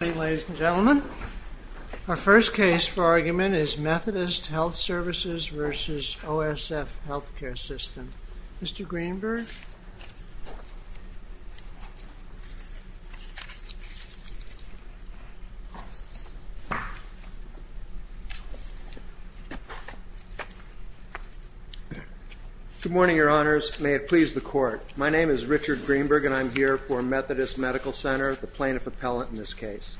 Ladies and gentlemen, our first case for argument is Methodist Health Services v. OSF Healthcare System. Mr. Greenberg. Good morning, your honors. May it please the court. My name is Richard Greenberg and I'm here for Methodist Medical Center, the plaintiff appellate in this case.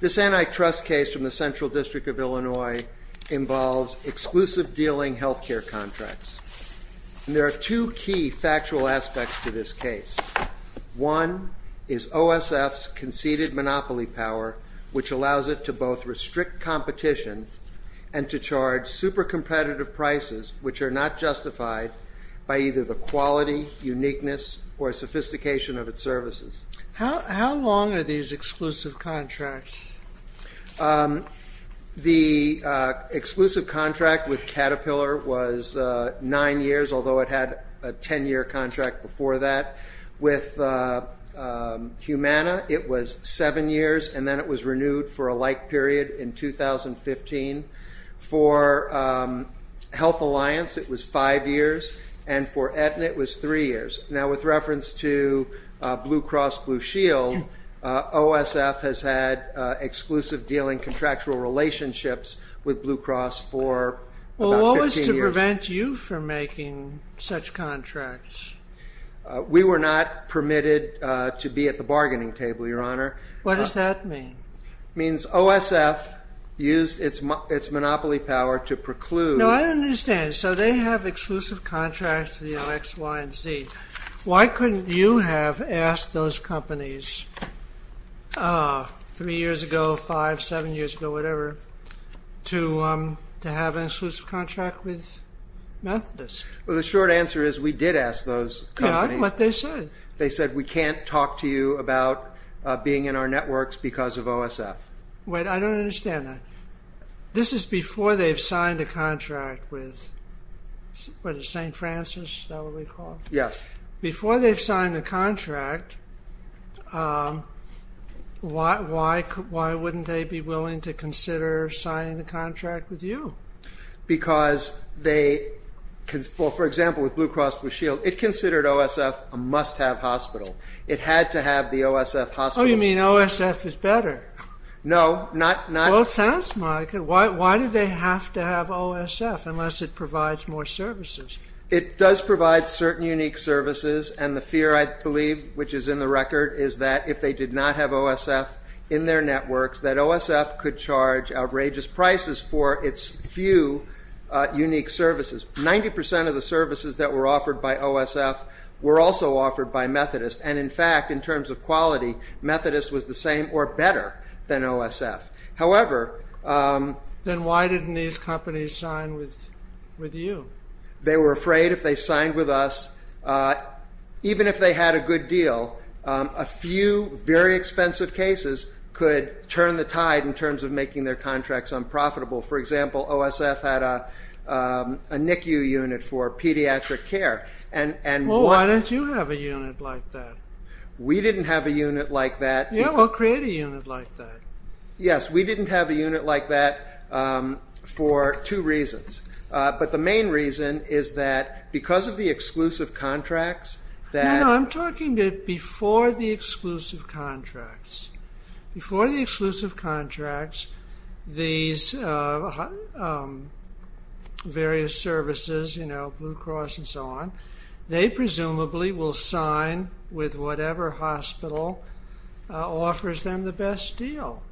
This antitrust case from the Central District of Illinois involves exclusive dealing healthcare contracts. And there are two key factual aspects to this case. One is OSF's conceded monopoly power, which allows it to both restrict competition and to charge super competitive prices, which are not justified by either the quality, uniqueness, or sophistication of its services. How long are these exclusive contracts? The exclusive contract with Caterpillar was 9 years, although it had a 10 year contract before that. With Humana it was 7 years and then it was renewed for a like period in 2015. For Health Alliance it was 5 years and for Aetna it was 3 years. Now with reference to Blue Cross Blue Shield, OSF has had exclusive dealing contractual relationships with Blue Cross for about 15 years. What was to prevent you from making such contracts? We were not permitted to be at the bargaining table, your honor. What does that mean? It means OSF used its monopoly power to preclude... No, I don't understand. So they have exclusive contracts with X, Y, and Z. Why couldn't you have asked those companies 3 years ago, 5, 7 years ago, whatever, to have an exclusive contract with Methodist? Well, the short answer is we did ask those companies. Yeah, I know what they said. They said we can't talk to you about being in our networks because of OSF. Wait, I don't understand that. This is before they've signed a contract with, what is it, St. Francis, is that what we call it? Yes. Before they've signed the contract, why wouldn't they be willing to consider signing the contract with you? Because they, for example, with Blue Cross Blue Shield, it considered OSF a must-have hospital. It had to have the OSF hospitals... Oh, you mean OSF is better? No, not... Well, it sounds like it. Why do they have to have OSF unless it provides more services? It does provide certain unique services, and the fear, I believe, which is in the record, is that if they did not have OSF in their networks, that OSF could charge outrageous prices for its few unique services. 90% of the services that were offered by OSF were also offered by Methodist, and in fact, in terms of quality, Methodist was the same or better than OSF. However... Then why didn't these companies sign with you? They were afraid if they signed with us, even if they had a good deal, a few very expensive cases could turn the tide in terms of making their contracts unprofitable. For example, OSF had a NICU unit for pediatric care. Well, why don't you have a unit like that? We didn't have a unit like that. Yeah, well, create a unit like that. Yes, we didn't have a unit like that for two reasons, but the main reason is that because of the exclusive contracts that... No, I'm talking before the exclusive contracts. Before the exclusive contracts, these various services, you know, Blue Cross and so on, they presumably will sign with whatever hospital offers them the best deal.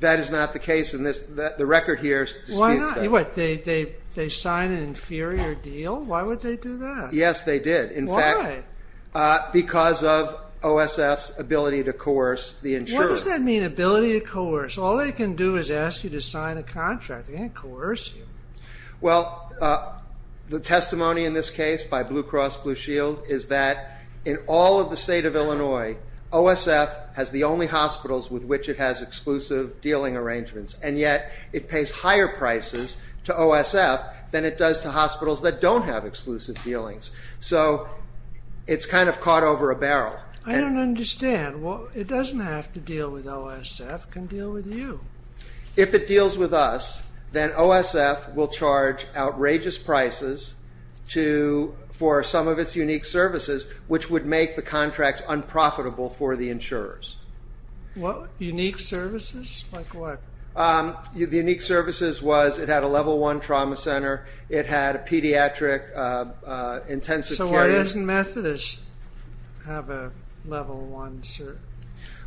That is not the case. The record here disputes that. Why not? They sign an inferior deal? Why would they do that? Yes, they did. Why? Because of OSF's ability to coerce the insurer. What does that mean, ability to coerce? All they can do is ask you to sign a contract. They can't coerce you. Well, the testimony in this case by Blue Cross Blue Shield is that in all of the state of Illinois, OSF has the only hospitals with which it has exclusive dealing arrangements, and yet it pays higher prices to OSF than it does to hospitals that don't have exclusive dealings. So it's kind of caught over a barrel. I don't understand. It doesn't have to deal with OSF. It can deal with you. If it deals with us, then OSF will charge outrageous prices for some of its unique services, which would make the contracts unprofitable for the insurers. Unique services? Like what? The unique services was it had a level one trauma center. It had a pediatric intensive care unit. So why doesn't Methodist have a level one?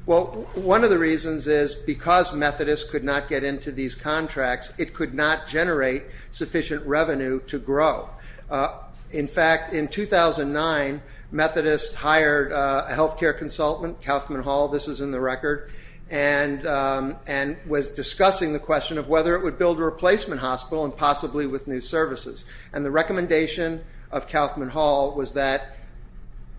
Well, one of the reasons is because Methodist could not get into these contracts, it could not generate sufficient revenue to grow. In fact, in 2009, Methodist hired a health care consultant, Kauffman Hall, this is in the record, and was discussing the question of whether it would build a replacement hospital and possibly with new services. And the recommendation of Kauffman Hall was that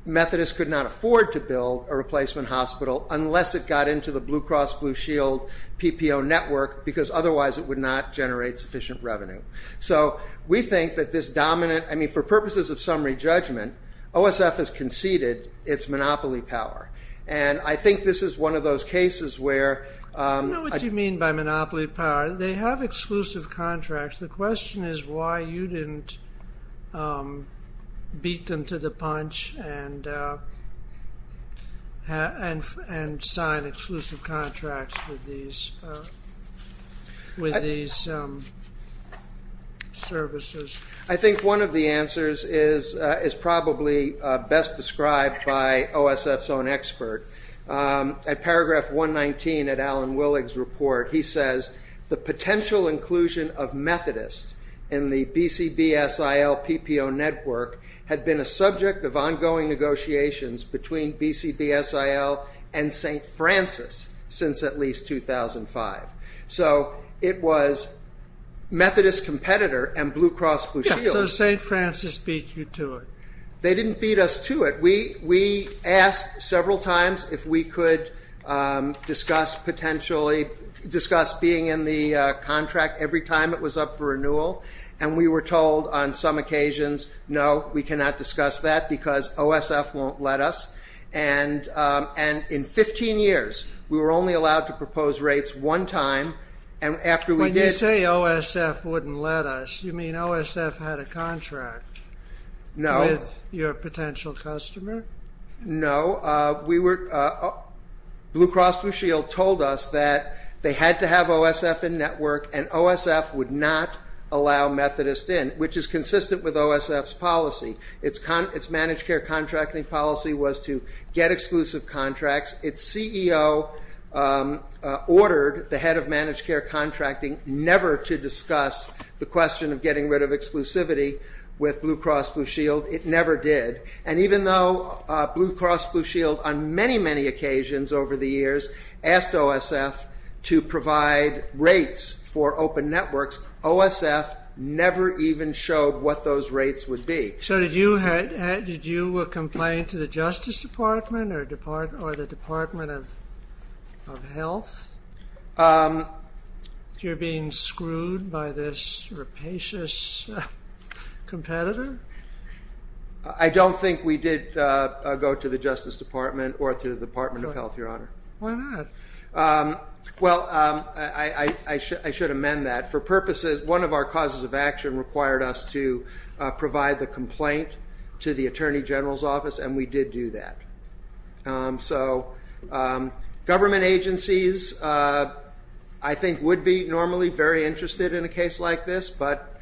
Methodist could not afford to build a replacement hospital unless it got into the Blue Cross Blue Shield PPO network, because otherwise it would not generate sufficient revenue. So we think that this dominant, I mean, for purposes of summary judgment, OSF has conceded its monopoly power, and I think this is one of those cases where I don't know what you mean by monopoly power. They have exclusive contracts. The question is why you didn't beat them to the punch and sign exclusive contracts with these services. I think one of the answers is probably best described by OSF's own expert. At paragraph 119 at Alan Willig's report, he says, the potential inclusion of Methodist in the BCBSIL PPO network had been a subject of ongoing negotiations between BCBSIL and St. Francis since at least 2005. So it was Methodist competitor and Blue Cross Blue Shield. So St. Francis beat you to it. They didn't beat us to it. We asked several times if we could discuss being in the contract every time it was up for renewal, and we were told on some occasions, no, we cannot discuss that because OSF won't let us. And in 15 years, we were only allowed to propose rates one time. When you say OSF wouldn't let us, you mean OSF had a contract with your potential customer? No, Blue Cross Blue Shield told us that they had to have OSF in network and OSF would not allow Methodist in, which is consistent with OSF's policy. Its managed care contracting policy was to get exclusive contracts. Its CEO ordered the head of managed care contracting never to discuss the question of getting rid of exclusivity with Blue Cross Blue Shield. It never did. And even though Blue Cross Blue Shield on many, many occasions over the years asked OSF to provide rates for open networks, OSF never even showed what those rates would be. So did you complain to the Justice Department or the Department of Health that you're being screwed by this rapacious competitor? I don't think we did go to the Justice Department or to the Department of Health, Your Honor. Why not? Well, I should amend that. For purposes, one of our causes of action required us to provide the complaint to the Attorney General's office, and we did do that. So government agencies, I think, would be normally very interested in a case like this, but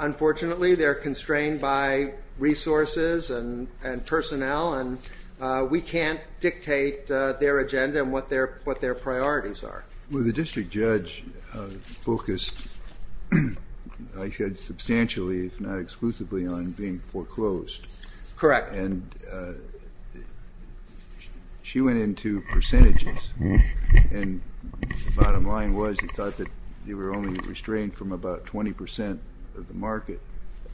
unfortunately they're constrained by resources and personnel, and we can't dictate their agenda and what their priorities are. Well, the district judge focused substantially, if not exclusively, on being foreclosed. Correct. And she went into percentages, and the bottom line was she thought that they were only restrained from about 20 percent of the market,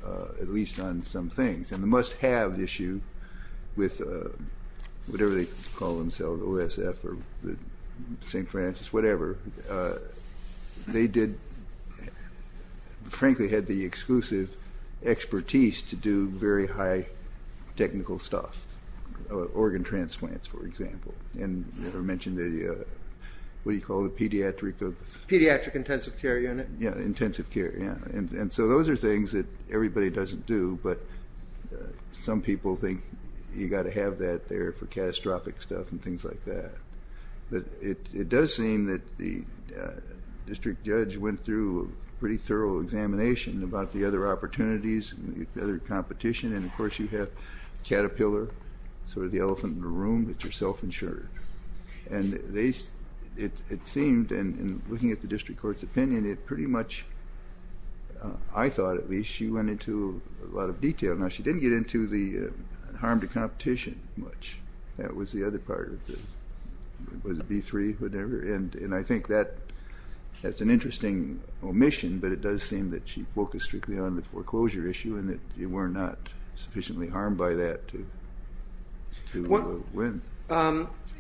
at least on some things. And the must-have issue with whatever they call themselves, OSF or St. Francis, whatever, they did, frankly, had the exclusive expertise to do very high technical stuff, organ transplants, for example. And you mentioned the, what do you call it, pediatric? Pediatric intensive care unit. Yeah, intensive care, yeah. And so those are things that everybody doesn't do, but some people think you've got to have that there for catastrophic stuff and things like that. But it does seem that the district judge went through a pretty thorough examination about the other opportunities, the other competition, and of course you have Caterpillar, sort of the elephant in the room, that you're self-insured. And it seemed, in looking at the district court's opinion, it pretty much, I thought at least, she went into a lot of detail. Now, she didn't get into the harm to competition much. That was the other part of it. Was it B3, whatever? And I think that's an interesting omission, but it does seem that she focused strictly on the foreclosure issue and that you were not sufficiently harmed by that to win.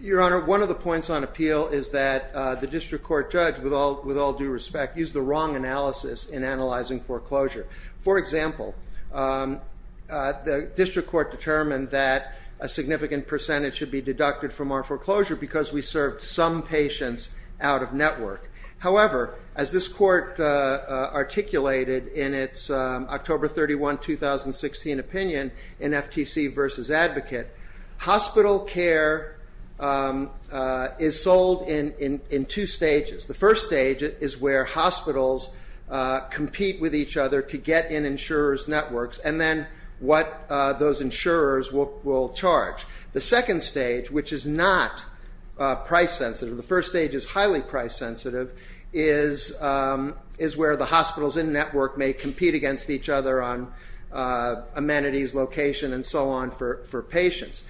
Your Honor, one of the points on appeal is that the district court judge, with all due respect, used the wrong analysis in analyzing foreclosure. For example, the district court determined that a significant percentage should be deducted from our foreclosure because we served some patients out of network. However, as this court articulated in its October 31, 2016 opinion in FTC versus Advocate, hospital care is sold in two stages. The first stage is where hospitals compete with each other to get in insurers' networks and then what those insurers will charge. The second stage, which is not price sensitive, the first stage is highly price sensitive, is where the hospitals in network may compete against each other on amenities, location, and so on for patients.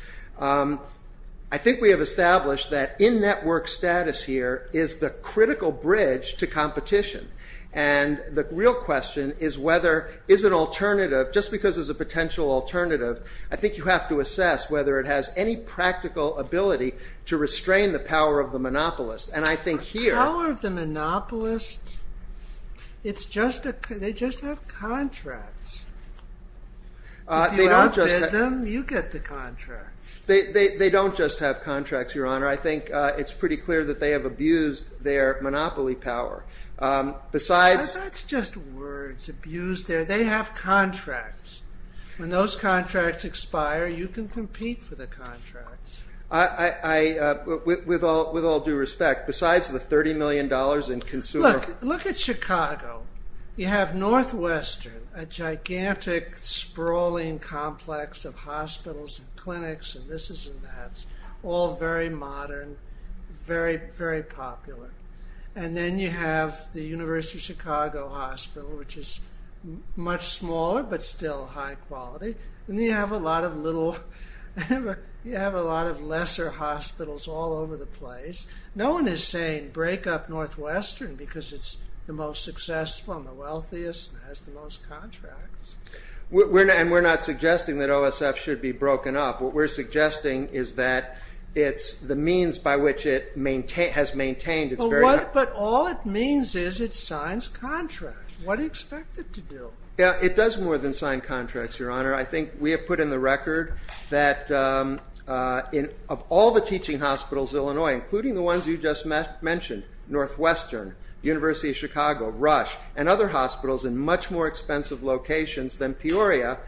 I think we have established that in-network status here is the critical bridge to competition and the real question is whether, just because there's a potential alternative, I think you have to assess whether it has any practical ability to restrain the power of the monopolist. The power of the monopolist, they just have contracts. If you outbid them, you get the contracts. They don't just have contracts, Your Honor. I think it's pretty clear that they have abused their monopoly power. That's just words, abused. They have contracts. When those contracts expire, you can compete for the contracts. With all due respect, besides the $30 million in consumer- Look at Chicago. You have Northwestern, a gigantic, sprawling complex of hospitals and clinics and this and that, all very modern, very popular. Then you have the University of Chicago Hospital, which is much smaller but still high quality. Then you have a lot of lesser hospitals all over the place. No one is saying break up Northwestern because it's the most successful and the wealthiest and has the most contracts. We're not suggesting that OSF should be broken up. What we're suggesting is that it's the means by which it has maintained its very- But all it means is it signs contracts. What do you expect it to do? It does more than sign contracts, Your Honor. I think we have put in the record that of all the teaching hospitals in Illinois, including the ones you just mentioned, Northwestern, University of Chicago, Rush, and other hospitals in much more expensive locations than Peoria,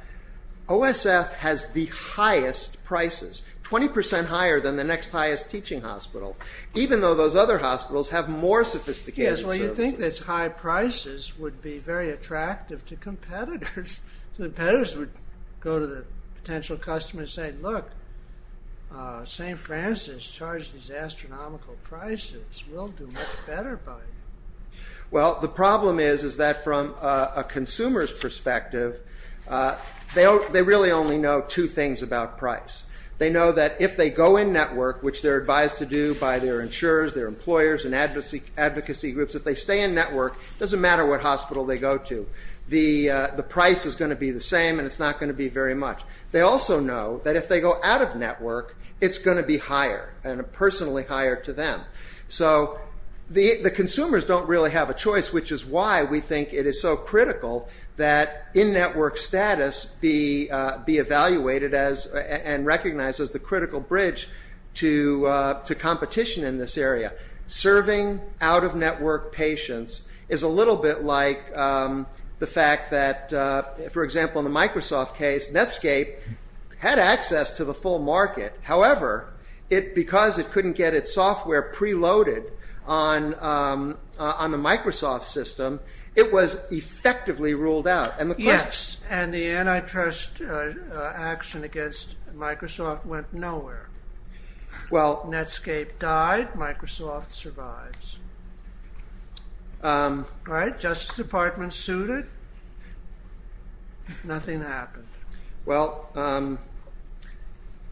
OSF has the highest prices, 20% higher than the next highest teaching hospital, even though those other hospitals have more sophisticated services. Yes, well, you'd think that high prices would be very attractive to competitors. So the competitors would go to the potential customer and say, Look, St. Francis charged these astronomical prices. We'll do much better by it. Well, the problem is that from a consumer's perspective, they really only know two things about price. They know that if they go in network, which they're advised to do by their insurers, their employers, and advocacy groups, if they stay in network, it doesn't matter what hospital they go to. The price is going to be the same, and it's not going to be very much. They also know that if they go out of network, it's going to be higher, and personally higher to them. So the consumers don't really have a choice, which is why we think it is so critical that in-network status be evaluated and recognized as the critical bridge to competition in this area. Serving out-of-network patients is a little bit like the fact that, for example, in the Microsoft case, Netscape had access to the full market. However, because it couldn't get its software preloaded on the Microsoft system, it was effectively ruled out. Yes, and the antitrust action against Microsoft went nowhere. Netscape died. Microsoft survives. The Justice Department sued it. Nothing happened. Well,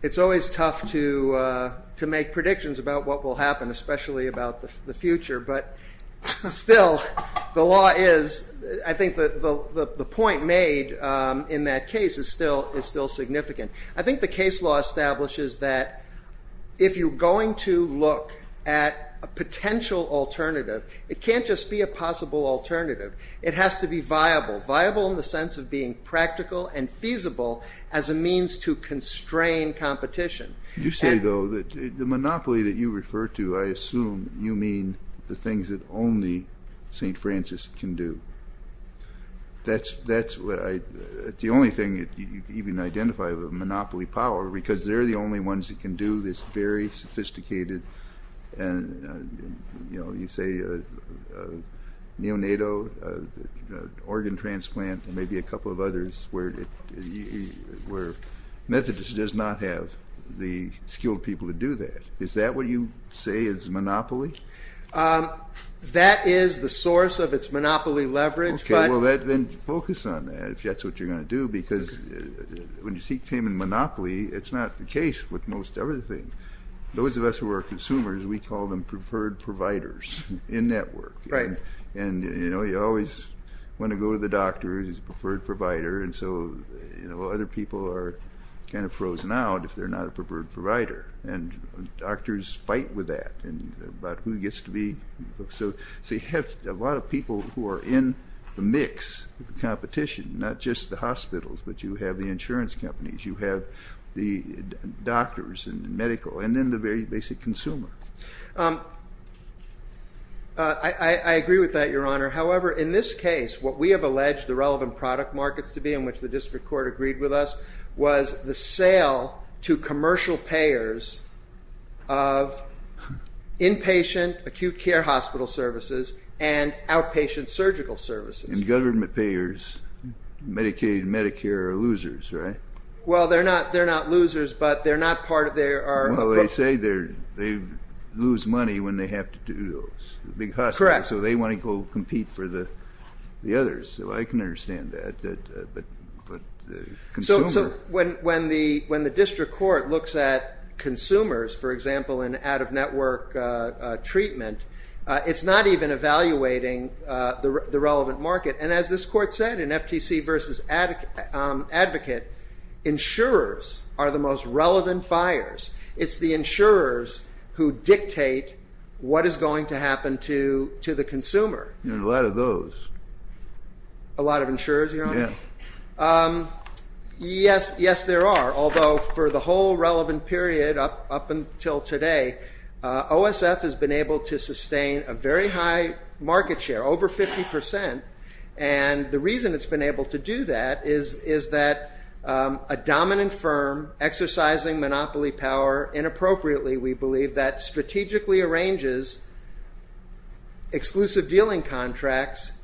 it's always tough to make predictions about what will happen, especially about the future, but still, the law is... I think the point made in that case is still significant. I think the case law establishes that if you're going to look at a potential alternative, it can't just be a possible alternative. It has to be viable, viable in the sense of being practical and feasible as a means to constrain competition. You say, though, that the monopoly that you refer to, I assume you mean the things that only St. Francis can do. That's what I... It's the only thing you can even identify as a monopoly power because they're the only ones that can do this very sophisticated, you know, you say, neonatal organ transplant and maybe a couple of others where Methodist does not have the skilled people to do that. Is that what you say is monopoly? That is the source of its monopoly leverage, but... Okay, well, then focus on that, if that's what you're going to do, because when you seek payment monopoly, it's not the case with most everything. Those of us who are consumers, we call them preferred providers in network. Right. And, you know, you always want to go to the doctor who's a preferred provider, and so other people are kind of frozen out if they're not a preferred provider, and doctors fight with that about who gets to be... So you have a lot of people who are in the mix of the competition, not just the hospitals, but you have the insurance companies, you have the doctors and medical, and then the very basic consumer. I agree with that, Your Honor. However, in this case, what we have alleged the relevant product markets to be in which the district court agreed with us was the sale to commercial payers of inpatient acute care hospital services and outpatient surgical services. And government payers, Medicaid and Medicare, are losers, right? Well, they're not losers, but they're not part of their... Well, they say they lose money when they have to do those. Correct. So they want to go compete for the others. I can understand that, but the consumer... So when the district court looks at consumers, for example, in out-of-network treatment, it's not even evaluating the relevant market. And as this court said in FTC v. Advocate, insurers are the most relevant buyers. It's the insurers who dictate what is going to happen to the consumer. There are a lot of those. A lot of insurers, Your Honor? Yes. Yes, there are. Although for the whole relevant period up until today, OSF has been able to sustain a very high market share, over 50%. And the reason it's been able to do that is that a dominant firm exercising monopoly power inappropriately, we believe that strategically arranges exclusive dealing contracts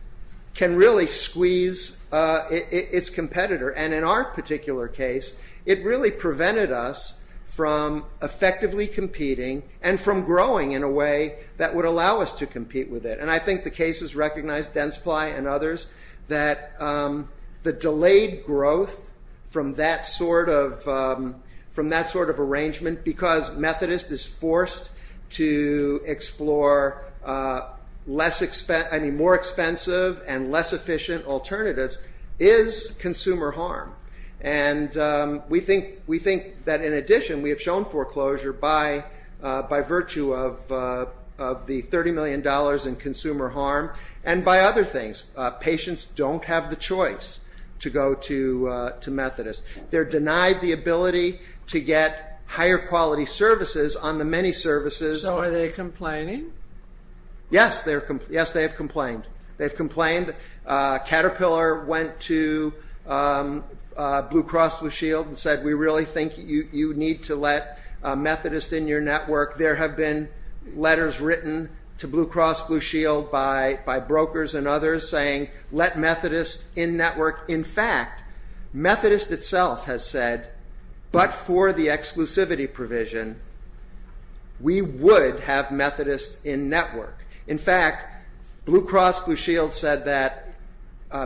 can really squeeze its competitor. And in our particular case, it really prevented us from effectively competing and from growing in a way that would allow us to compete with it. And I think the case has recognized, Densply and others, that the delayed growth from that sort of arrangement because Methodist is forced to explore more expensive and less efficient alternatives is consumer harm. And we think that, in addition, we have shown foreclosure by virtue of the $30 million in consumer harm and by other things. Patients don't have the choice to go to Methodist. They're denied the ability to get higher quality services on the many services. So are they complaining? Yes, they have complained. They've complained. Caterpillar went to Blue Cross Blue Shield and said, we really think you need to let Methodist in your network. There have been letters written to Blue Cross Blue Shield by brokers and others saying, let Methodist in network. In fact, Methodist itself has said, but for the exclusivity provision, we would have Methodist in network. In fact, Blue Cross Blue Shield said that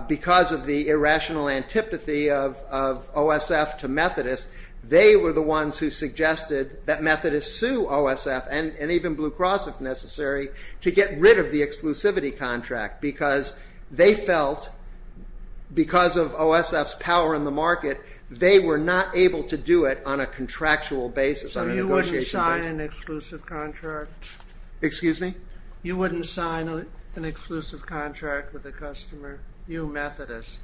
because of the irrational antipathy of OSF to Methodist, they were the ones who suggested that Methodist sue OSF and even Blue Cross, if necessary, to get rid of the exclusivity contract because they felt, because of OSF's power in the market, they were not able to do it on a contractual basis, on a negotiation basis. So you wouldn't sign an exclusive contract? Excuse me? You wouldn't sign an exclusive contract with a customer, you, Methodist?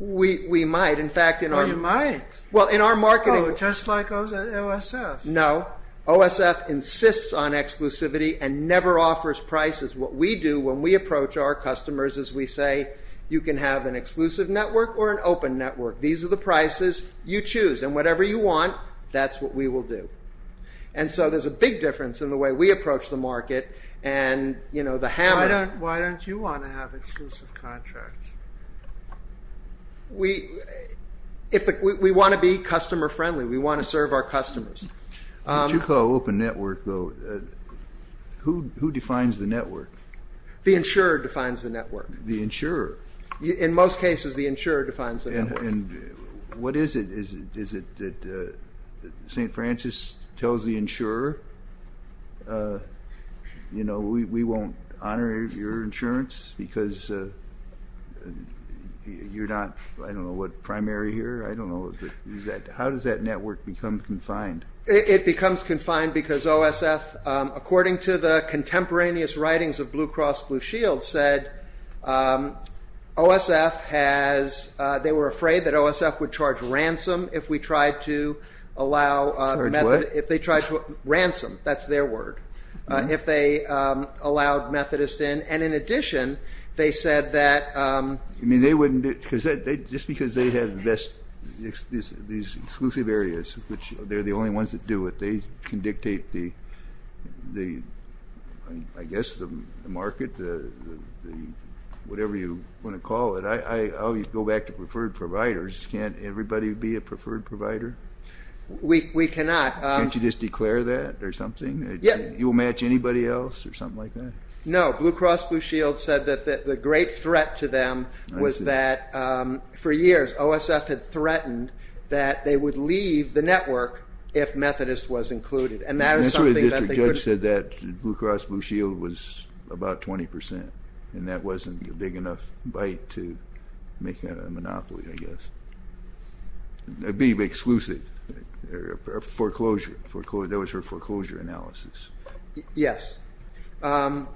We might. Oh, you might? Well, in our marketing... Oh, just like OSF? No. OSF insists on exclusivity and never offers prices. What we do when we approach our customers is we say, you can have an exclusive network or an open network. These are the prices you choose, and whatever you want, that's what we will do. And so there's a big difference in the way we approach the market and, you know, the hammer... Why don't you want to have exclusive contracts? We want to be customer-friendly. We want to serve our customers. What you call open network, though, who defines the network? The insurer defines the network. The insurer? In most cases, the insurer defines the network. And what is it? Is it that St. Francis tells the insurer, you know, we won't honor your insurance because you're not, I don't know, what, primary here? I don't know. How does that network become confined? It becomes confined because OSF, according to the contemporaneous writings of Blue Cross Blue Shield, said OSF has, they were afraid that OSF would charge ransom if we tried to allow... Charge what? Ransom, that's their word, if they allowed Methodists in. And in addition, they said that... Just because they have these exclusive areas, which they're the only ones that do it, they can dictate the, I guess, the market, whatever you want to call it. I always go back to preferred providers. Can't everybody be a preferred provider? We cannot. Can't you just declare that or something? You will match anybody else or something like that? No, Blue Cross Blue Shield said that the great threat to them was that for years OSF had threatened that they would leave the network if Methodists was included, and that is something that they could... The district judge said that Blue Cross Blue Shield was about 20%, and that wasn't a big enough bite to make a monopoly, I guess. It would be exclusive, foreclosure. That was her foreclosure analysis. Yes. Your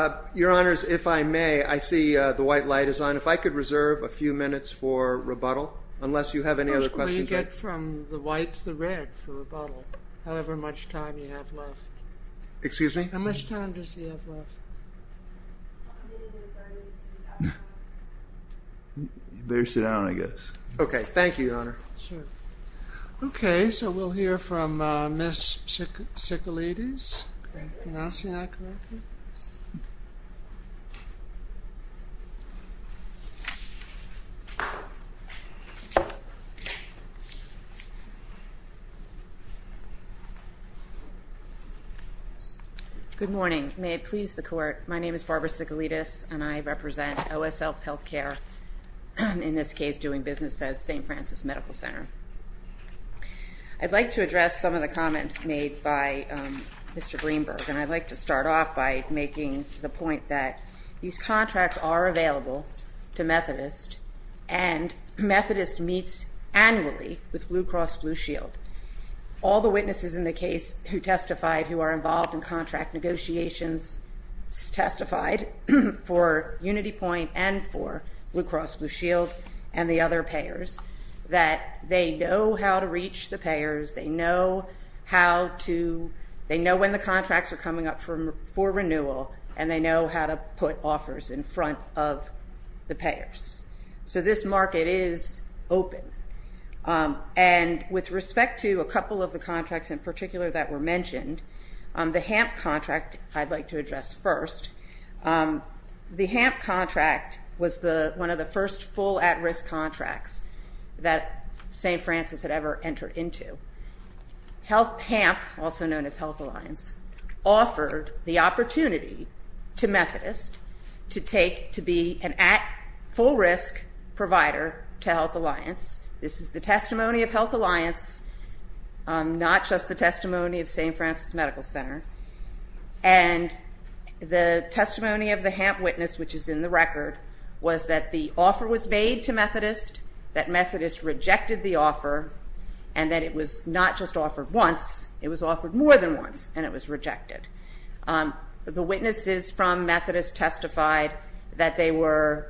Honors, if I may, I see the white light is on. If I could reserve a few minutes for rebuttal, unless you have any other questions. How much will you get from the white to the red for rebuttal, however much time you have left? Excuse me? How much time does he have left? I'm going to go back to the top. You better sit down, I guess. Okay, thank you, Your Honor. Okay, so we'll hear from Ms. Sicalides. Can I see that correctly? Good morning. May it please the Court, my name is Barbara Sicalides, and I represent OSF Healthcare, in this case doing business at St. Francis Medical Center. I'd like to address some of the comments made by Mr. Greenberg, and I'd like to start off by making the point that these contracts are available to Methodist, and Methodist meets annually with Blue Cross Blue Shield. All the witnesses in the case who testified, who are involved in contract negotiations, testified for UnityPoint and for Blue Cross Blue Shield and the other payers, that they know how to reach the payers, they know when the contracts are coming up for renewal, and they know how to put offers in front of the payers. So this market is open. And with respect to a couple of the contracts in particular that were mentioned, the HAMP contract I'd like to address first. The HAMP contract was one of the first full at-risk contracts that St. Francis had ever entered into. HAMP, also known as Health Alliance, offered the opportunity to Methodist to take, to be an at-full-risk provider to Health Alliance. This is the testimony of Health Alliance, not just the testimony of St. Francis Medical Center. And the testimony of the HAMP witness, which is in the record, was that the offer was made to Methodist, that Methodist rejected the offer, and that it was not just offered once, it was offered more than once, and it was rejected. The witnesses from Methodist testified that they were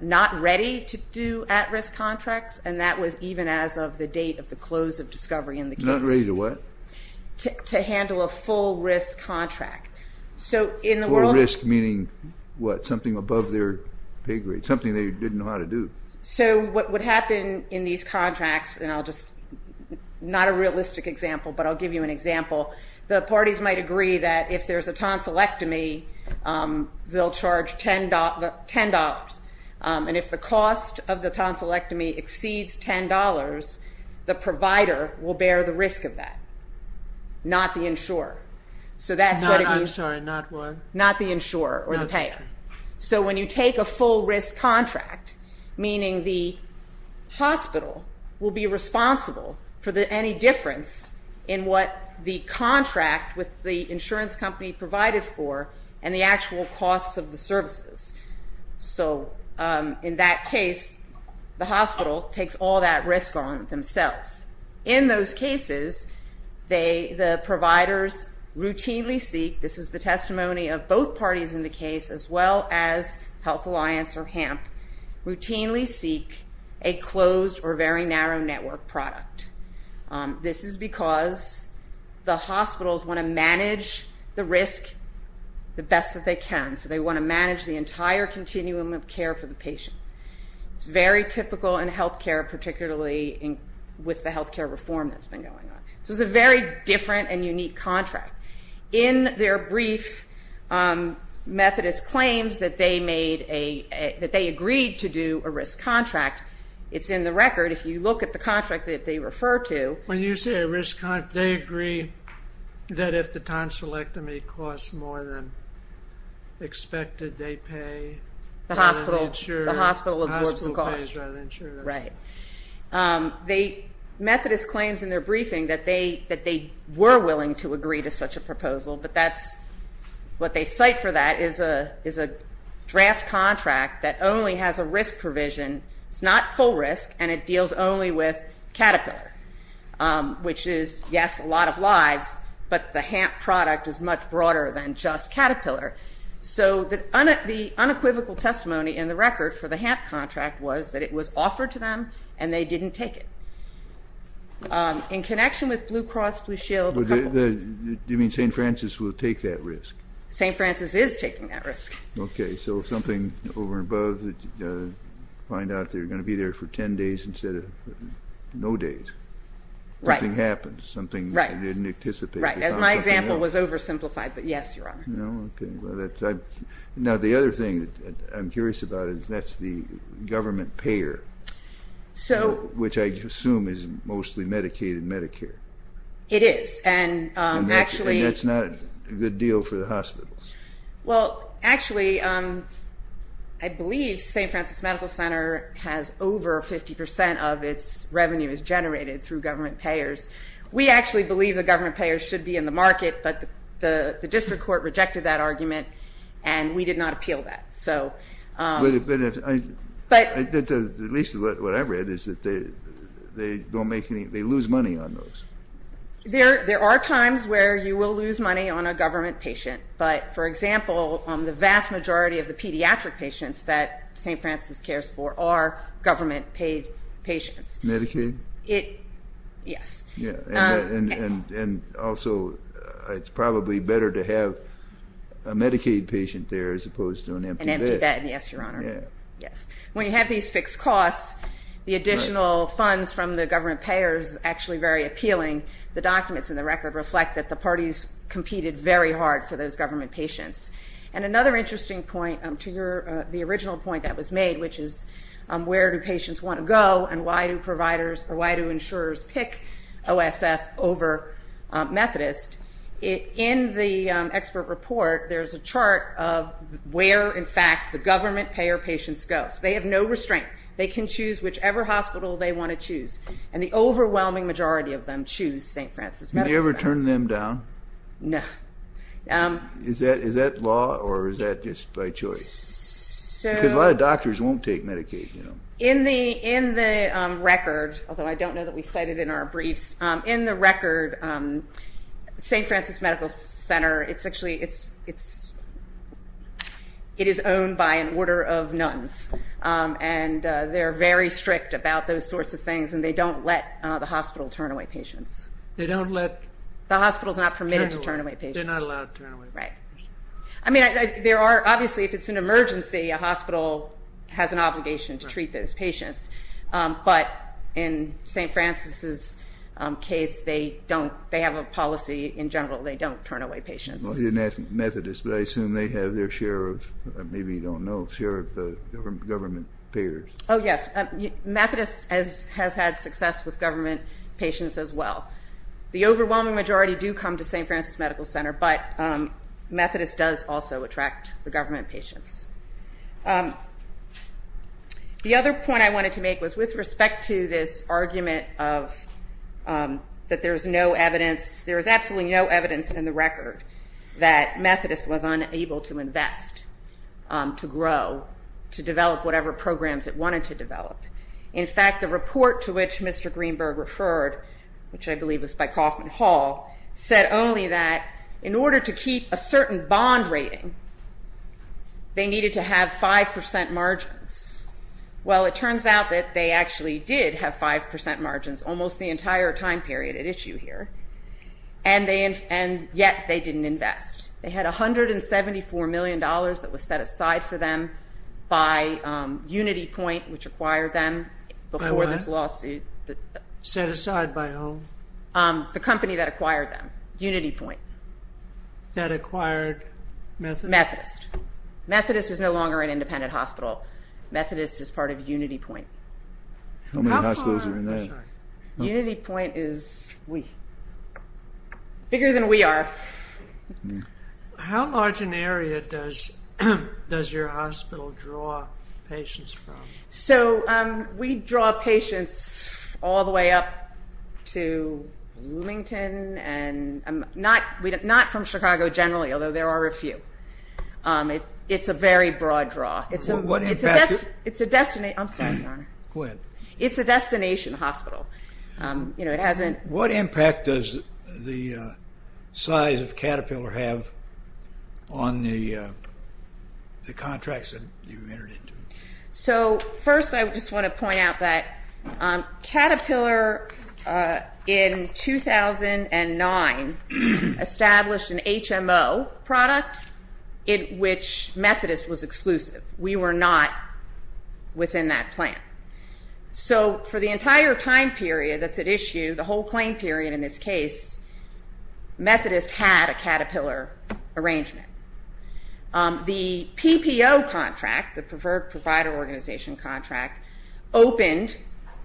not ready to do at-risk contracts, and that was even as of the date of the close of discovery in the case. Not ready to what? To handle a full-risk contract. Full-risk meaning what? Something above their pay grade? Something they didn't know how to do? So what would happen in these contracts, and I'll just, not a realistic example, but I'll give you an example. The parties might agree that if there's a tonsillectomy, they'll charge $10. And if the cost of the tonsillectomy exceeds $10, the provider will bear the risk of that, not the insurer. I'm sorry, not what? Not the insurer or the payer. So when you take a full-risk contract, meaning the hospital will be responsible for any difference in what the contract with the insurance company provided for and the actual costs of the services. So in that case, the hospital takes all that risk on themselves. In those cases, the providers routinely seek, this is the testimony of both parties in the case, as well as Health Alliance or HAMP, routinely seek a closed or very narrow network product. This is because the hospitals want to manage the risk the best that they can. So they want to manage the entire continuum of care for the patient. It's very typical in healthcare, particularly with the healthcare reform that's been going on. So it's a very different and unique contract. In their brief, Methodist claims that they agreed to do a risk contract, it's in the record. If you look at the contract that they refer to. When you say a risk contract, they agree that if the tonsillectomy costs more than expected, they pay rather than insure. The hospital absorbs the cost. The hospital pays rather than insure. Right. Methodist claims in their briefing that they were willing to agree to such a proposal, but what they cite for that is a draft contract that only has a risk provision. It's not full risk and it deals only with Caterpillar, which is, yes, a lot of lives, but the HAMP product is much broader than just Caterpillar. So the unequivocal testimony in the record for the HAMP contract was that it was offered to them and they didn't take it. In connection with Blue Cross Blue Shield. Do you mean St. Francis will take that risk? St. Francis is taking that risk. Okay. So something over and above that you find out they're going to be there for 10 days instead of no days. Right. Something happens. Something they didn't anticipate. Right. As my example was oversimplified, but yes, Your Honor. Okay. Now the other thing that I'm curious about is that's the government payer. So. Which I assume is mostly Medicaid and Medicare. It is. And actually. And that's not a good deal for the hospitals. Well, actually, I believe St. Francis Medical Center has over 50% of its revenue is generated through government payers. We actually believe the government payers should be in the market, but the district court rejected that argument and we did not appeal that. So. But at least what I read is that they don't make any, they lose money on those. There are times where you will lose money on a government patient, but, for example, the vast majority of the pediatric patients that St. Francis cares for are government paid patients. Medicaid? Yes. Yeah. And also it's probably better to have a Medicaid patient there as opposed to an empty bed. An empty bed, yes, Your Honor. Yeah. Yes. When you have these fixed costs, the additional funds from the government payers is actually very appealing. The documents in the record reflect that the parties competed very hard for those government patients. And another interesting point to your, the original point that was made, which is where do patients want to go and why do providers, or why do insurers pick OSF over Methodist? In the expert report, there's a chart of where, in fact, the government payer patients go. They have no restraint. They can choose whichever hospital they want to choose. And the overwhelming majority of them choose St. Francis Medical Center. Do you ever turn them down? No. Is that law or is that just by choice? Because a lot of doctors won't take Medicaid, you know. In the record, although I don't know that we cite it in our briefs, in the record, St. Francis Medical Center, it's actually, it is owned by an order of nuns. And they're very strict about those sorts of things, and they don't let the hospital turn away patients. They don't let? The hospital is not permitted to turn away patients. They're not allowed to turn away patients. Right. I mean, there are, obviously, if it's an emergency, a hospital has an obligation to treat those patients. But in St. Francis's case, they don't, they have a policy, in general, they don't turn away patients. Well, you didn't ask Methodist, but I assume they have their share of, maybe you don't know, share of the government payers. Oh, yes. Methodist has had success with government patients as well. The overwhelming majority do come to St. Francis Medical Center, but Methodist does also attract the government patients. The other point I wanted to make was with respect to this argument of that there's no evidence, there is absolutely no evidence in the record that Methodist was unable to invest, to grow, to develop whatever programs it wanted to develop. In fact, the report to which Mr. Greenberg referred, which I believe was by Kaufman Hall, said only that in order to keep a certain bond rating, they needed to have 5% margins. Well, it turns out that they actually did have 5% margins almost the entire time period at issue here, and yet they didn't invest. They had $174 million that was set aside for them by UnityPoint, which acquired them before this lawsuit. By what? Set aside by whom? The company that acquired them, UnityPoint. That acquired Methodist? Methodist. Methodist is no longer an independent hospital. Methodist is part of UnityPoint. How many hospitals are in there? UnityPoint is bigger than we are. How large an area does your hospital draw patients from? So we draw patients all the way up to Bloomington, and not from Chicago generally, although there are a few. It's a very broad draw. It's a destination hospital. What impact does the size of Caterpillar have on the contracts that you entered into? So first I just want to point out that Caterpillar, in 2009, established an HMO product in which Methodist was exclusive. We were not within that plan. So for the entire time period that's at issue, the whole claim period in this case, Methodist had a Caterpillar arrangement. The PPO contract, the Preferred Provider Organization contract, opened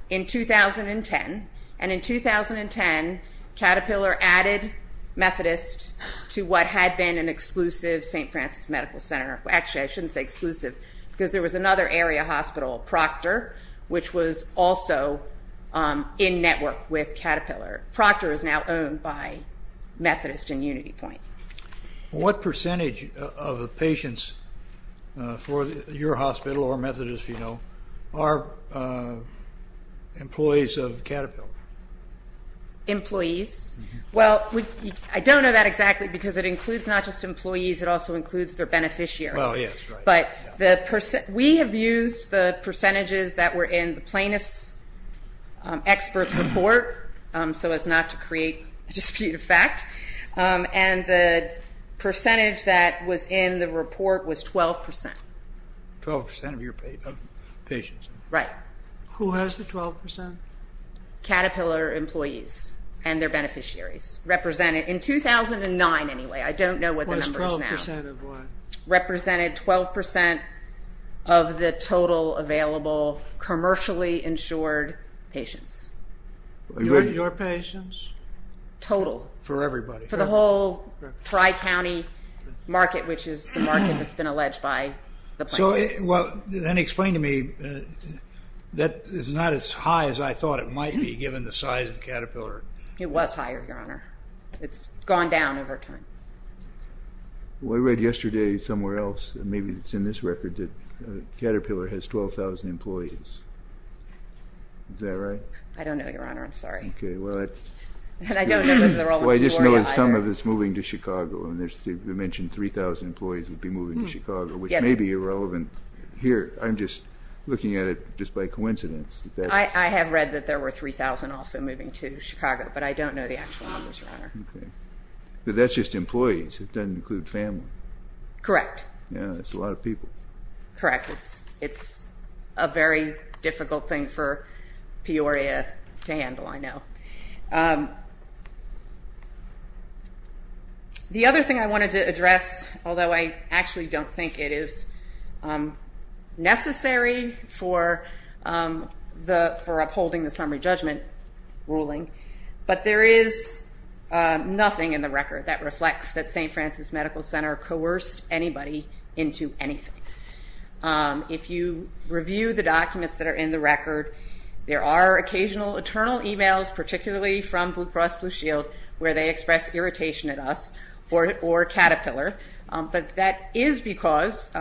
in 2010, and in 2010 Caterpillar added Methodist to what had been an exclusive St. Francis Medical Center. Actually, I shouldn't say exclusive because there was another area hospital, Proctor, which was also in network with Caterpillar. Proctor is now owned by Methodist and UnityPoint. What percentage of the patients for your hospital or Methodist, you know, are employees of Caterpillar? Employees? Well, I don't know that exactly because it includes not just employees. It also includes their beneficiaries. Well, yes, right. But we have used the percentages that were in the plaintiff's expert report so as not to create a dispute of fact, and the percentage that was in the report was 12 percent. Twelve percent of your patients? Right. Who has the 12 percent? Caterpillar employees and their beneficiaries represented in 2009 anyway. I don't know what the number is now. It was 12 percent of what? Represented 12 percent of the total available commercially insured patients. Your patients? Total. For everybody. For the whole tri-county market, which is the market that's been alleged by the plaintiff. Well, then explain to me, that is not as high as I thought it might be given the size of Caterpillar. It was higher, Your Honor. It's gone down over time. Well, I read yesterday somewhere else, maybe it's in this record, that Caterpillar has 12,000 employees. Is that right? I don't know, Your Honor. I'm sorry. Okay. Well, I just know that some of it is moving to Chicago, and they mentioned 3,000 employees would be moving to Chicago, which may be irrelevant here. I'm just looking at it just by coincidence. I have read that there were 3,000 also moving to Chicago, but I don't know the actual numbers, Your Honor. Okay. But that's just employees. It doesn't include family. Correct. Yeah, that's a lot of people. Correct. It's a very difficult thing for Peoria to handle, I know. The other thing I wanted to address, although I actually don't think it is necessary for upholding the summary judgment ruling, but there is nothing in the record that reflects that St. Francis Medical Center coerced anybody into anything. If you review the documents that are in the record, there are occasional internal emails, particularly from Blue Cross Blue Shield, where they express irritation at us or Caterpillar, but that is because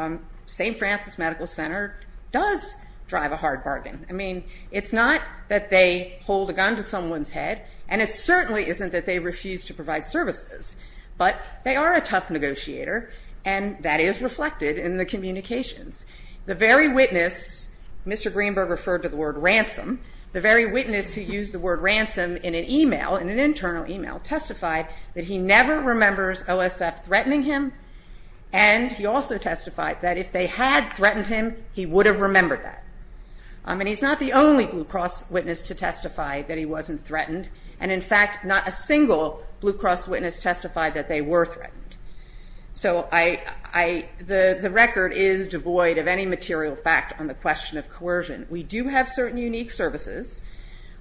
St. Francis Medical Center does drive a hard bargain. I mean, it's not that they hold a gun to someone's head, and it certainly isn't that they refuse to provide services, but they are a tough negotiator, and that is reflected in the communications. The very witness, Mr. Greenberg referred to the word ransom, the very witness who used the word ransom in an email, in an internal email, testified that he never remembers OSF threatening him, and he also testified that if they had threatened him, he would have remembered that. I mean, he's not the only Blue Cross witness to testify that he wasn't threatened, and in fact not a single Blue Cross witness testified that they were threatened. So the record is devoid of any material fact on the question of coercion. We do have certain unique services,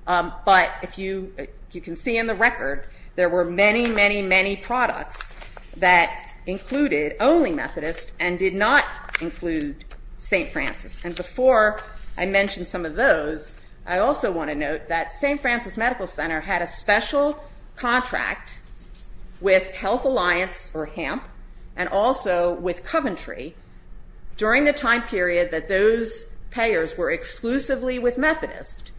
but if you can see in the record, there were many, many, many products that included only Methodist and did not include St. Francis, and before I mention some of those, I also want to note that St. Francis Medical Center had a special contract with Health Alliance or HAMP and also with Coventry during the time period that those payers were exclusively with Methodist.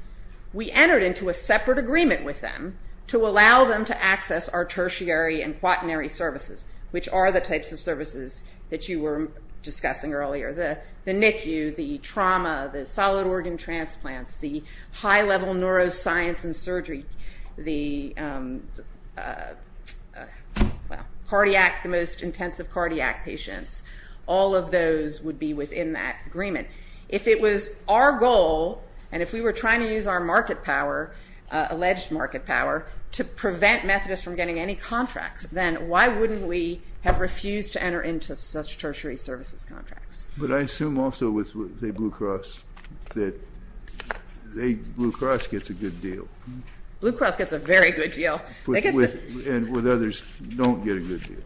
We entered into a separate agreement with them to allow them to access our tertiary and quaternary services, which are the types of services that you were discussing earlier, the NICU, the trauma, the solid organ transplants, the high-level neuroscience and surgery, the cardiac, the most intensive cardiac patients, all of those would be within that agreement. If it was our goal and if we were trying to use our market power, alleged market power, to prevent Methodist from getting any contracts, then why wouldn't we have refused to enter into such tertiary services contracts? But I assume also with, say, Blue Cross, that Blue Cross gets a good deal. Blue Cross gets a very good deal. And with others don't get a good deal.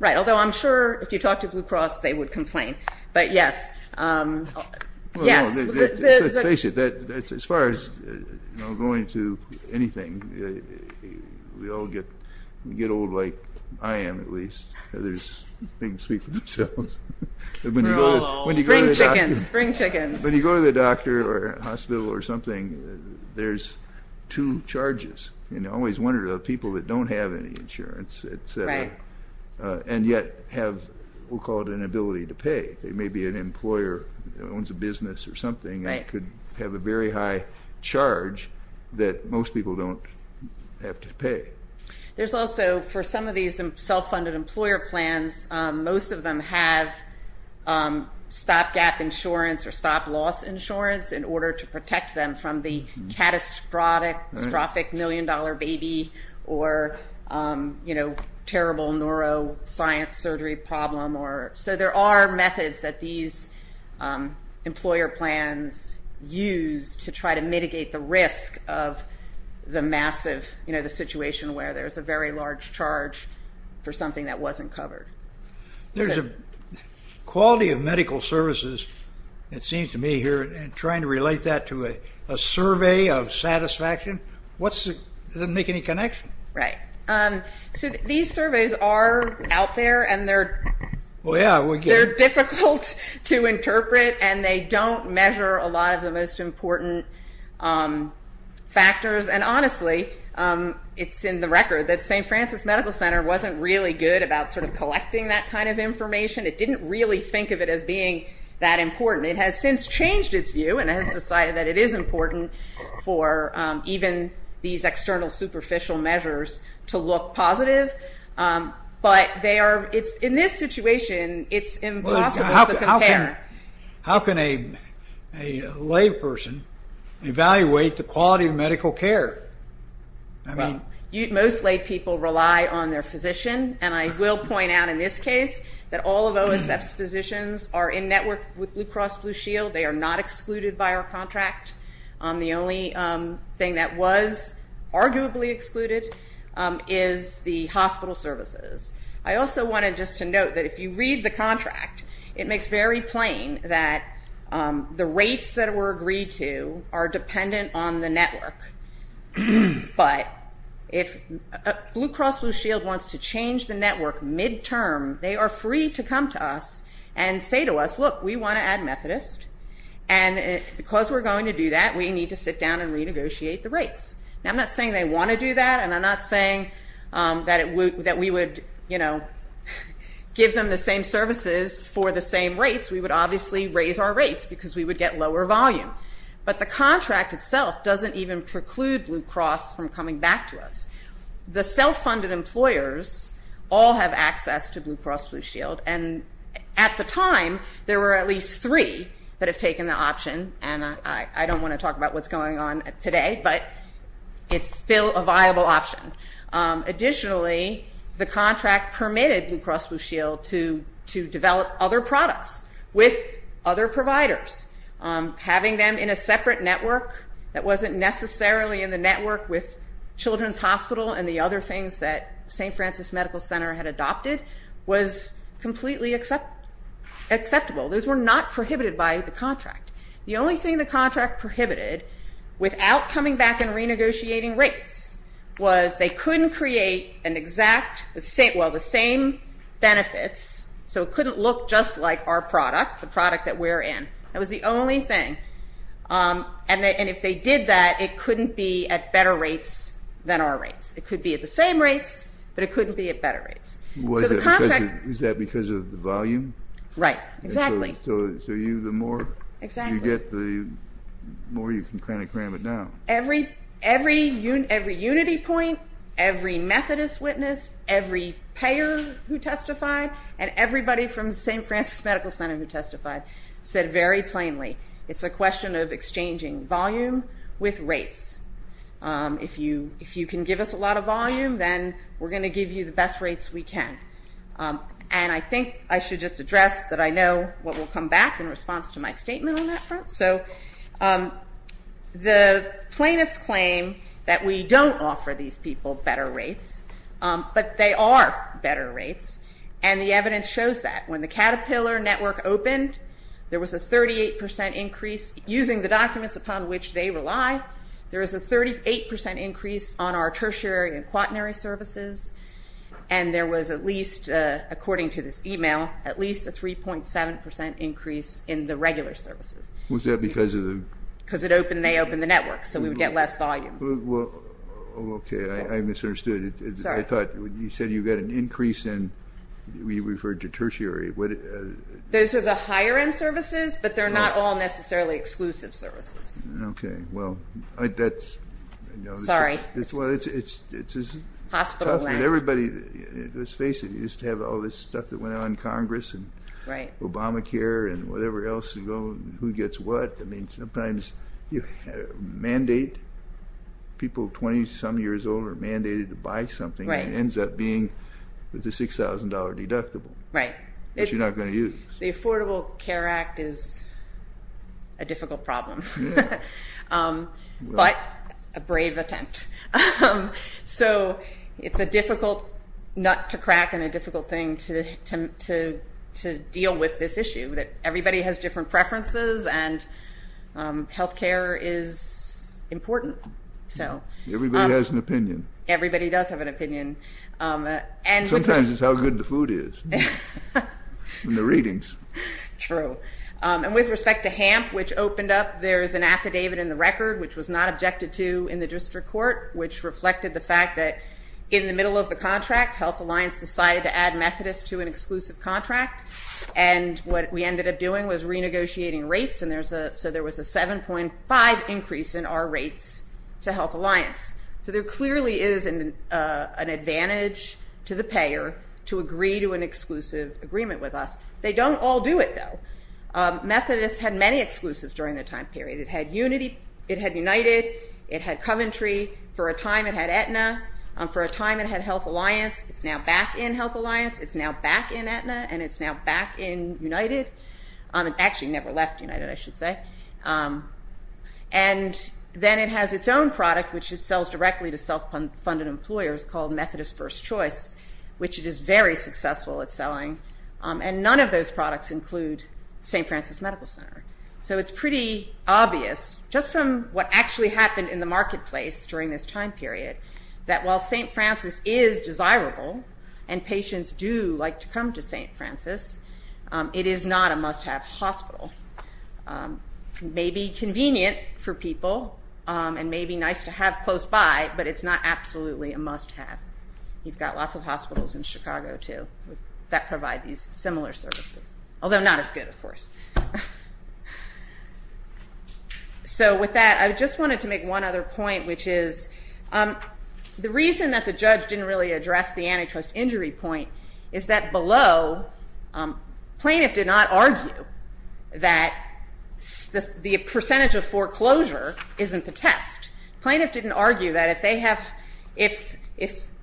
Right, although I'm sure if you talk to Blue Cross, they would complain, but yes. Let's face it, as far as going to anything, we all get old like I am at least. Others speak for themselves. We're all old. Spring chickens, spring chickens. When you go to the doctor or hospital or something, there's two charges. You always wonder about people that don't have any insurance, and yet have, we'll call it an ability to pay. Maybe an employer owns a business or something and could have a very high charge that most people don't have to pay. There's also, for some of these self-funded employer plans, most of them have stopgap insurance or stop-loss insurance in order to protect them from the catastrophic million-dollar baby or terrible neuroscience surgery problem. So there are methods that these employer plans use to try to mitigate the risk of the massive, the situation where there's a very large charge for something that wasn't covered. There's a quality of medical services, it seems to me here, and trying to relate that to a survey of satisfaction, doesn't make any connection. So these surveys are out there, and they're difficult to interpret, and they don't measure a lot of the most important factors. And honestly, it's in the record that St. Francis Medical Center wasn't really good about collecting that kind of information. It didn't really think of it as being that important. It has since changed its view and has decided that it is important for even these external superficial measures to look positive. But in this situation, it's impossible to compare. How can a layperson evaluate the quality of medical care? Most laypeople rely on their physician, and I will point out in this case that all of OSF's physicians are in network with Blue Cross Blue Shield. They are not excluded by our contract. The only thing that was arguably excluded is the hospital services. I also wanted just to note that if you read the contract, it makes very plain that the rates that were agreed to are dependent on the network. But if Blue Cross Blue Shield wants to change the network midterm, they are free to come to us and say to us, look, we want to add Methodist, and because we're going to do that, we need to sit down and renegotiate the rates. Now, I'm not saying they want to do that, and I'm not saying that we would give them the same services for the same rates. We would obviously raise our rates because we would get lower volume. But the contract itself doesn't even preclude Blue Cross from coming back to us. The self-funded employers all have access to Blue Cross Blue Shield, and at the time there were at least three that have taken the option, and I don't want to talk about what's going on today, but it's still a viable option. Additionally, the contract permitted Blue Cross Blue Shield to develop other products with other providers. Having them in a separate network that wasn't necessarily in the network with Children's Hospital and the other things that St. Francis Medical Center had adopted was completely acceptable. Those were not prohibited by the contract. The only thing the contract prohibited, without coming back and renegotiating rates, was they couldn't create the same benefits, so it couldn't look just like our product, the product that we're in. That was the only thing, and if they did that, it couldn't be at better rates than our rates. It could be at the same rates, but it couldn't be at better rates. Was that because of the volume? Right, exactly. So the more you get, the more you can kind of cram it down. Every unity point, every Methodist witness, every payer who testified, and everybody from St. Francis Medical Center who testified said very plainly, it's a question of exchanging volume with rates. If you can give us a lot of volume, then we're going to give you the best rates we can. And I think I should just address that I know what will come back in response to my statement on that front. So the plaintiffs claim that we don't offer these people better rates, but they are better rates, and the evidence shows that. When the Caterpillar network opened, there was a 38% increase. Using the documents upon which they rely, there is a 38% increase on our tertiary and quaternary services, and there was at least, according to this e-mail, at least a 3.7% increase in the regular services. Was that because of the? Because they opened the network, so we would get less volume. Well, okay, I misunderstood. Sorry. I thought you said you got an increase in, we referred to tertiary. Those are the higher-end services, but they're not all necessarily exclusive services. Okay, well, that's. Sorry. It's as tough with everybody. Let's face it, you used to have all this stuff that went out in Congress and Obamacare and whatever else, who gets what. I mean, sometimes you mandate people 20-some years old are mandated to buy something and it ends up being a $6,000 deductible. Right. Which you're not going to use. The Affordable Care Act is a difficult problem, but a brave attempt. So it's a difficult nut to crack and a difficult thing to deal with this issue, that everybody has different preferences and health care is important. Everybody has an opinion. Everybody does have an opinion. Sometimes it's how good the food is and the readings. True. And with respect to HAMP, which opened up, there's an affidavit in the record, which was not objected to in the district court, which reflected the fact that in the middle of the contract, Health Alliance decided to add Methodist to an exclusive contract, and what we ended up doing was renegotiating rates, so there was a 7.5 increase in our rates to Health Alliance. So there clearly is an advantage to the payer to agree to an exclusive agreement with us. They don't all do it, though. Methodist had many exclusives during that time period. It had Unity, it had United, it had Coventry. For a time it had Aetna. For a time it had Health Alliance. It's now back in Health Alliance. It's now back in Aetna, and it's now back in United. It actually never left United, I should say. And then it has its own product, which it sells directly to self-funded employers called Methodist First Choice, which it is very successful at selling, and none of those products include St. Francis Medical Center. So it's pretty obvious, just from what actually happened in the marketplace during this time period, that while St. Francis is desirable and patients do like to come to St. Francis, it is not a must-have hospital. It may be convenient for people and may be nice to have close by, but it's not absolutely a must-have. You've got lots of hospitals in Chicago, too, that provide these similar services, although not as good, of course. So with that, I just wanted to make one other point, which is the reason that the judge didn't really address the antitrust injury point is that below, plaintiff did not argue that the percentage of foreclosure isn't the test. Plaintiff didn't argue that if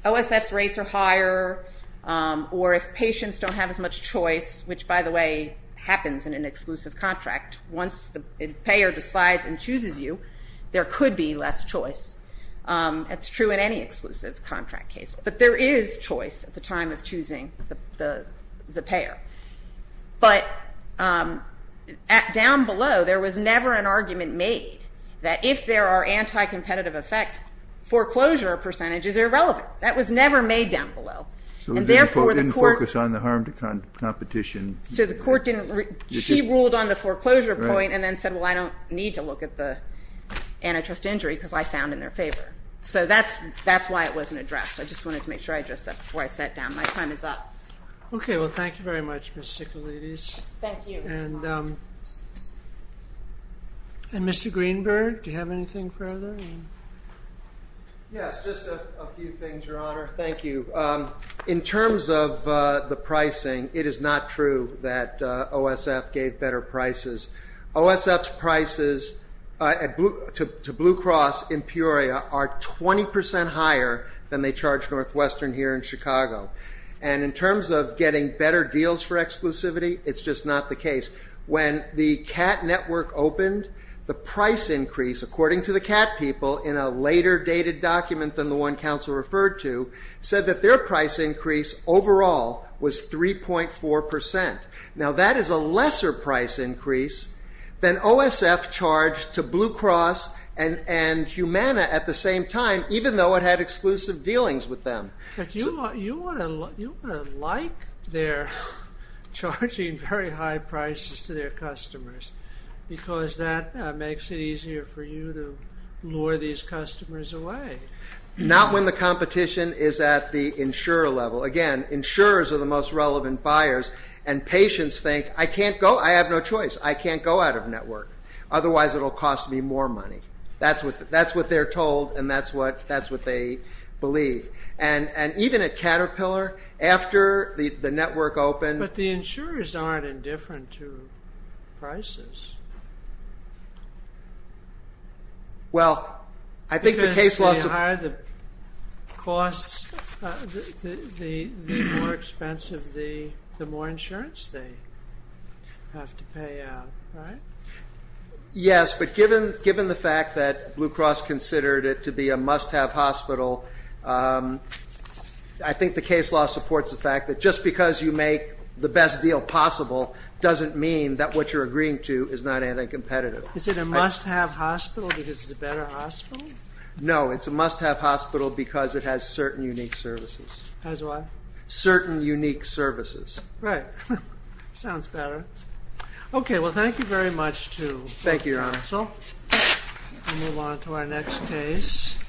OSF's rates are higher or if patients don't have as much choice, which, by the way, happens in an exclusive contract, once the payer decides and chooses you, there could be less choice. That's true in any exclusive contract case. But there is choice at the time of choosing the payer. But down below, there was never an argument made that if there are anti-competitive effects, foreclosure percentages are irrelevant. That was never made down below. So it didn't focus on the harm to competition? So she ruled on the foreclosure point and then said, well, I don't need to look at the antitrust injury because I found in their favor. So that's why it wasn't addressed. I just wanted to make sure I addressed that before I sat down. My time is up. Okay. Well, thank you very much, Ms. Sicalides. Thank you. And Mr. Greenberg, do you have anything further? Yes, just a few things, Your Honor. Thank you. So in terms of the pricing, it is not true that OSF gave better prices. OSF's prices to Blue Cross Empyrea are 20% higher than they charge Northwestern here in Chicago. And in terms of getting better deals for exclusivity, it's just not the case. When the CAT network opened, the price increase, according to the CAT people, in a later dated document than the one counsel referred to, said that their price increase overall was 3.4%. Now, that is a lesser price increase than OSF charged to Blue Cross and Humana at the same time, even though it had exclusive dealings with them. But you want to like their charging very high prices to their customers because that makes it easier for you to lure these customers away. Not when the competition is at the insurer level. Again, insurers are the most relevant buyers, and patients think, I can't go, I have no choice, I can't go out of network, otherwise it will cost me more money. That's what they're told, and that's what they believe. And even at Caterpillar, after the network opened... But the insurers aren't indifferent to prices. Well, I think the case law... Because the higher the cost, the more expensive, the more insurance they have to pay out, right? Yes, but given the fact that Blue Cross considered it to be a must-have hospital, I think the case law supports the fact that just because you make the best deal possible doesn't mean that what you're agreeing to is not anti-competitive. Is it a must-have hospital because it's a better hospital? No, it's a must-have hospital because it has certain unique services. Has what? Certain unique services. Right. Sounds better. Okay, well, thank you very much to counsel. Thank you, Your Honor. We'll move on to our next case.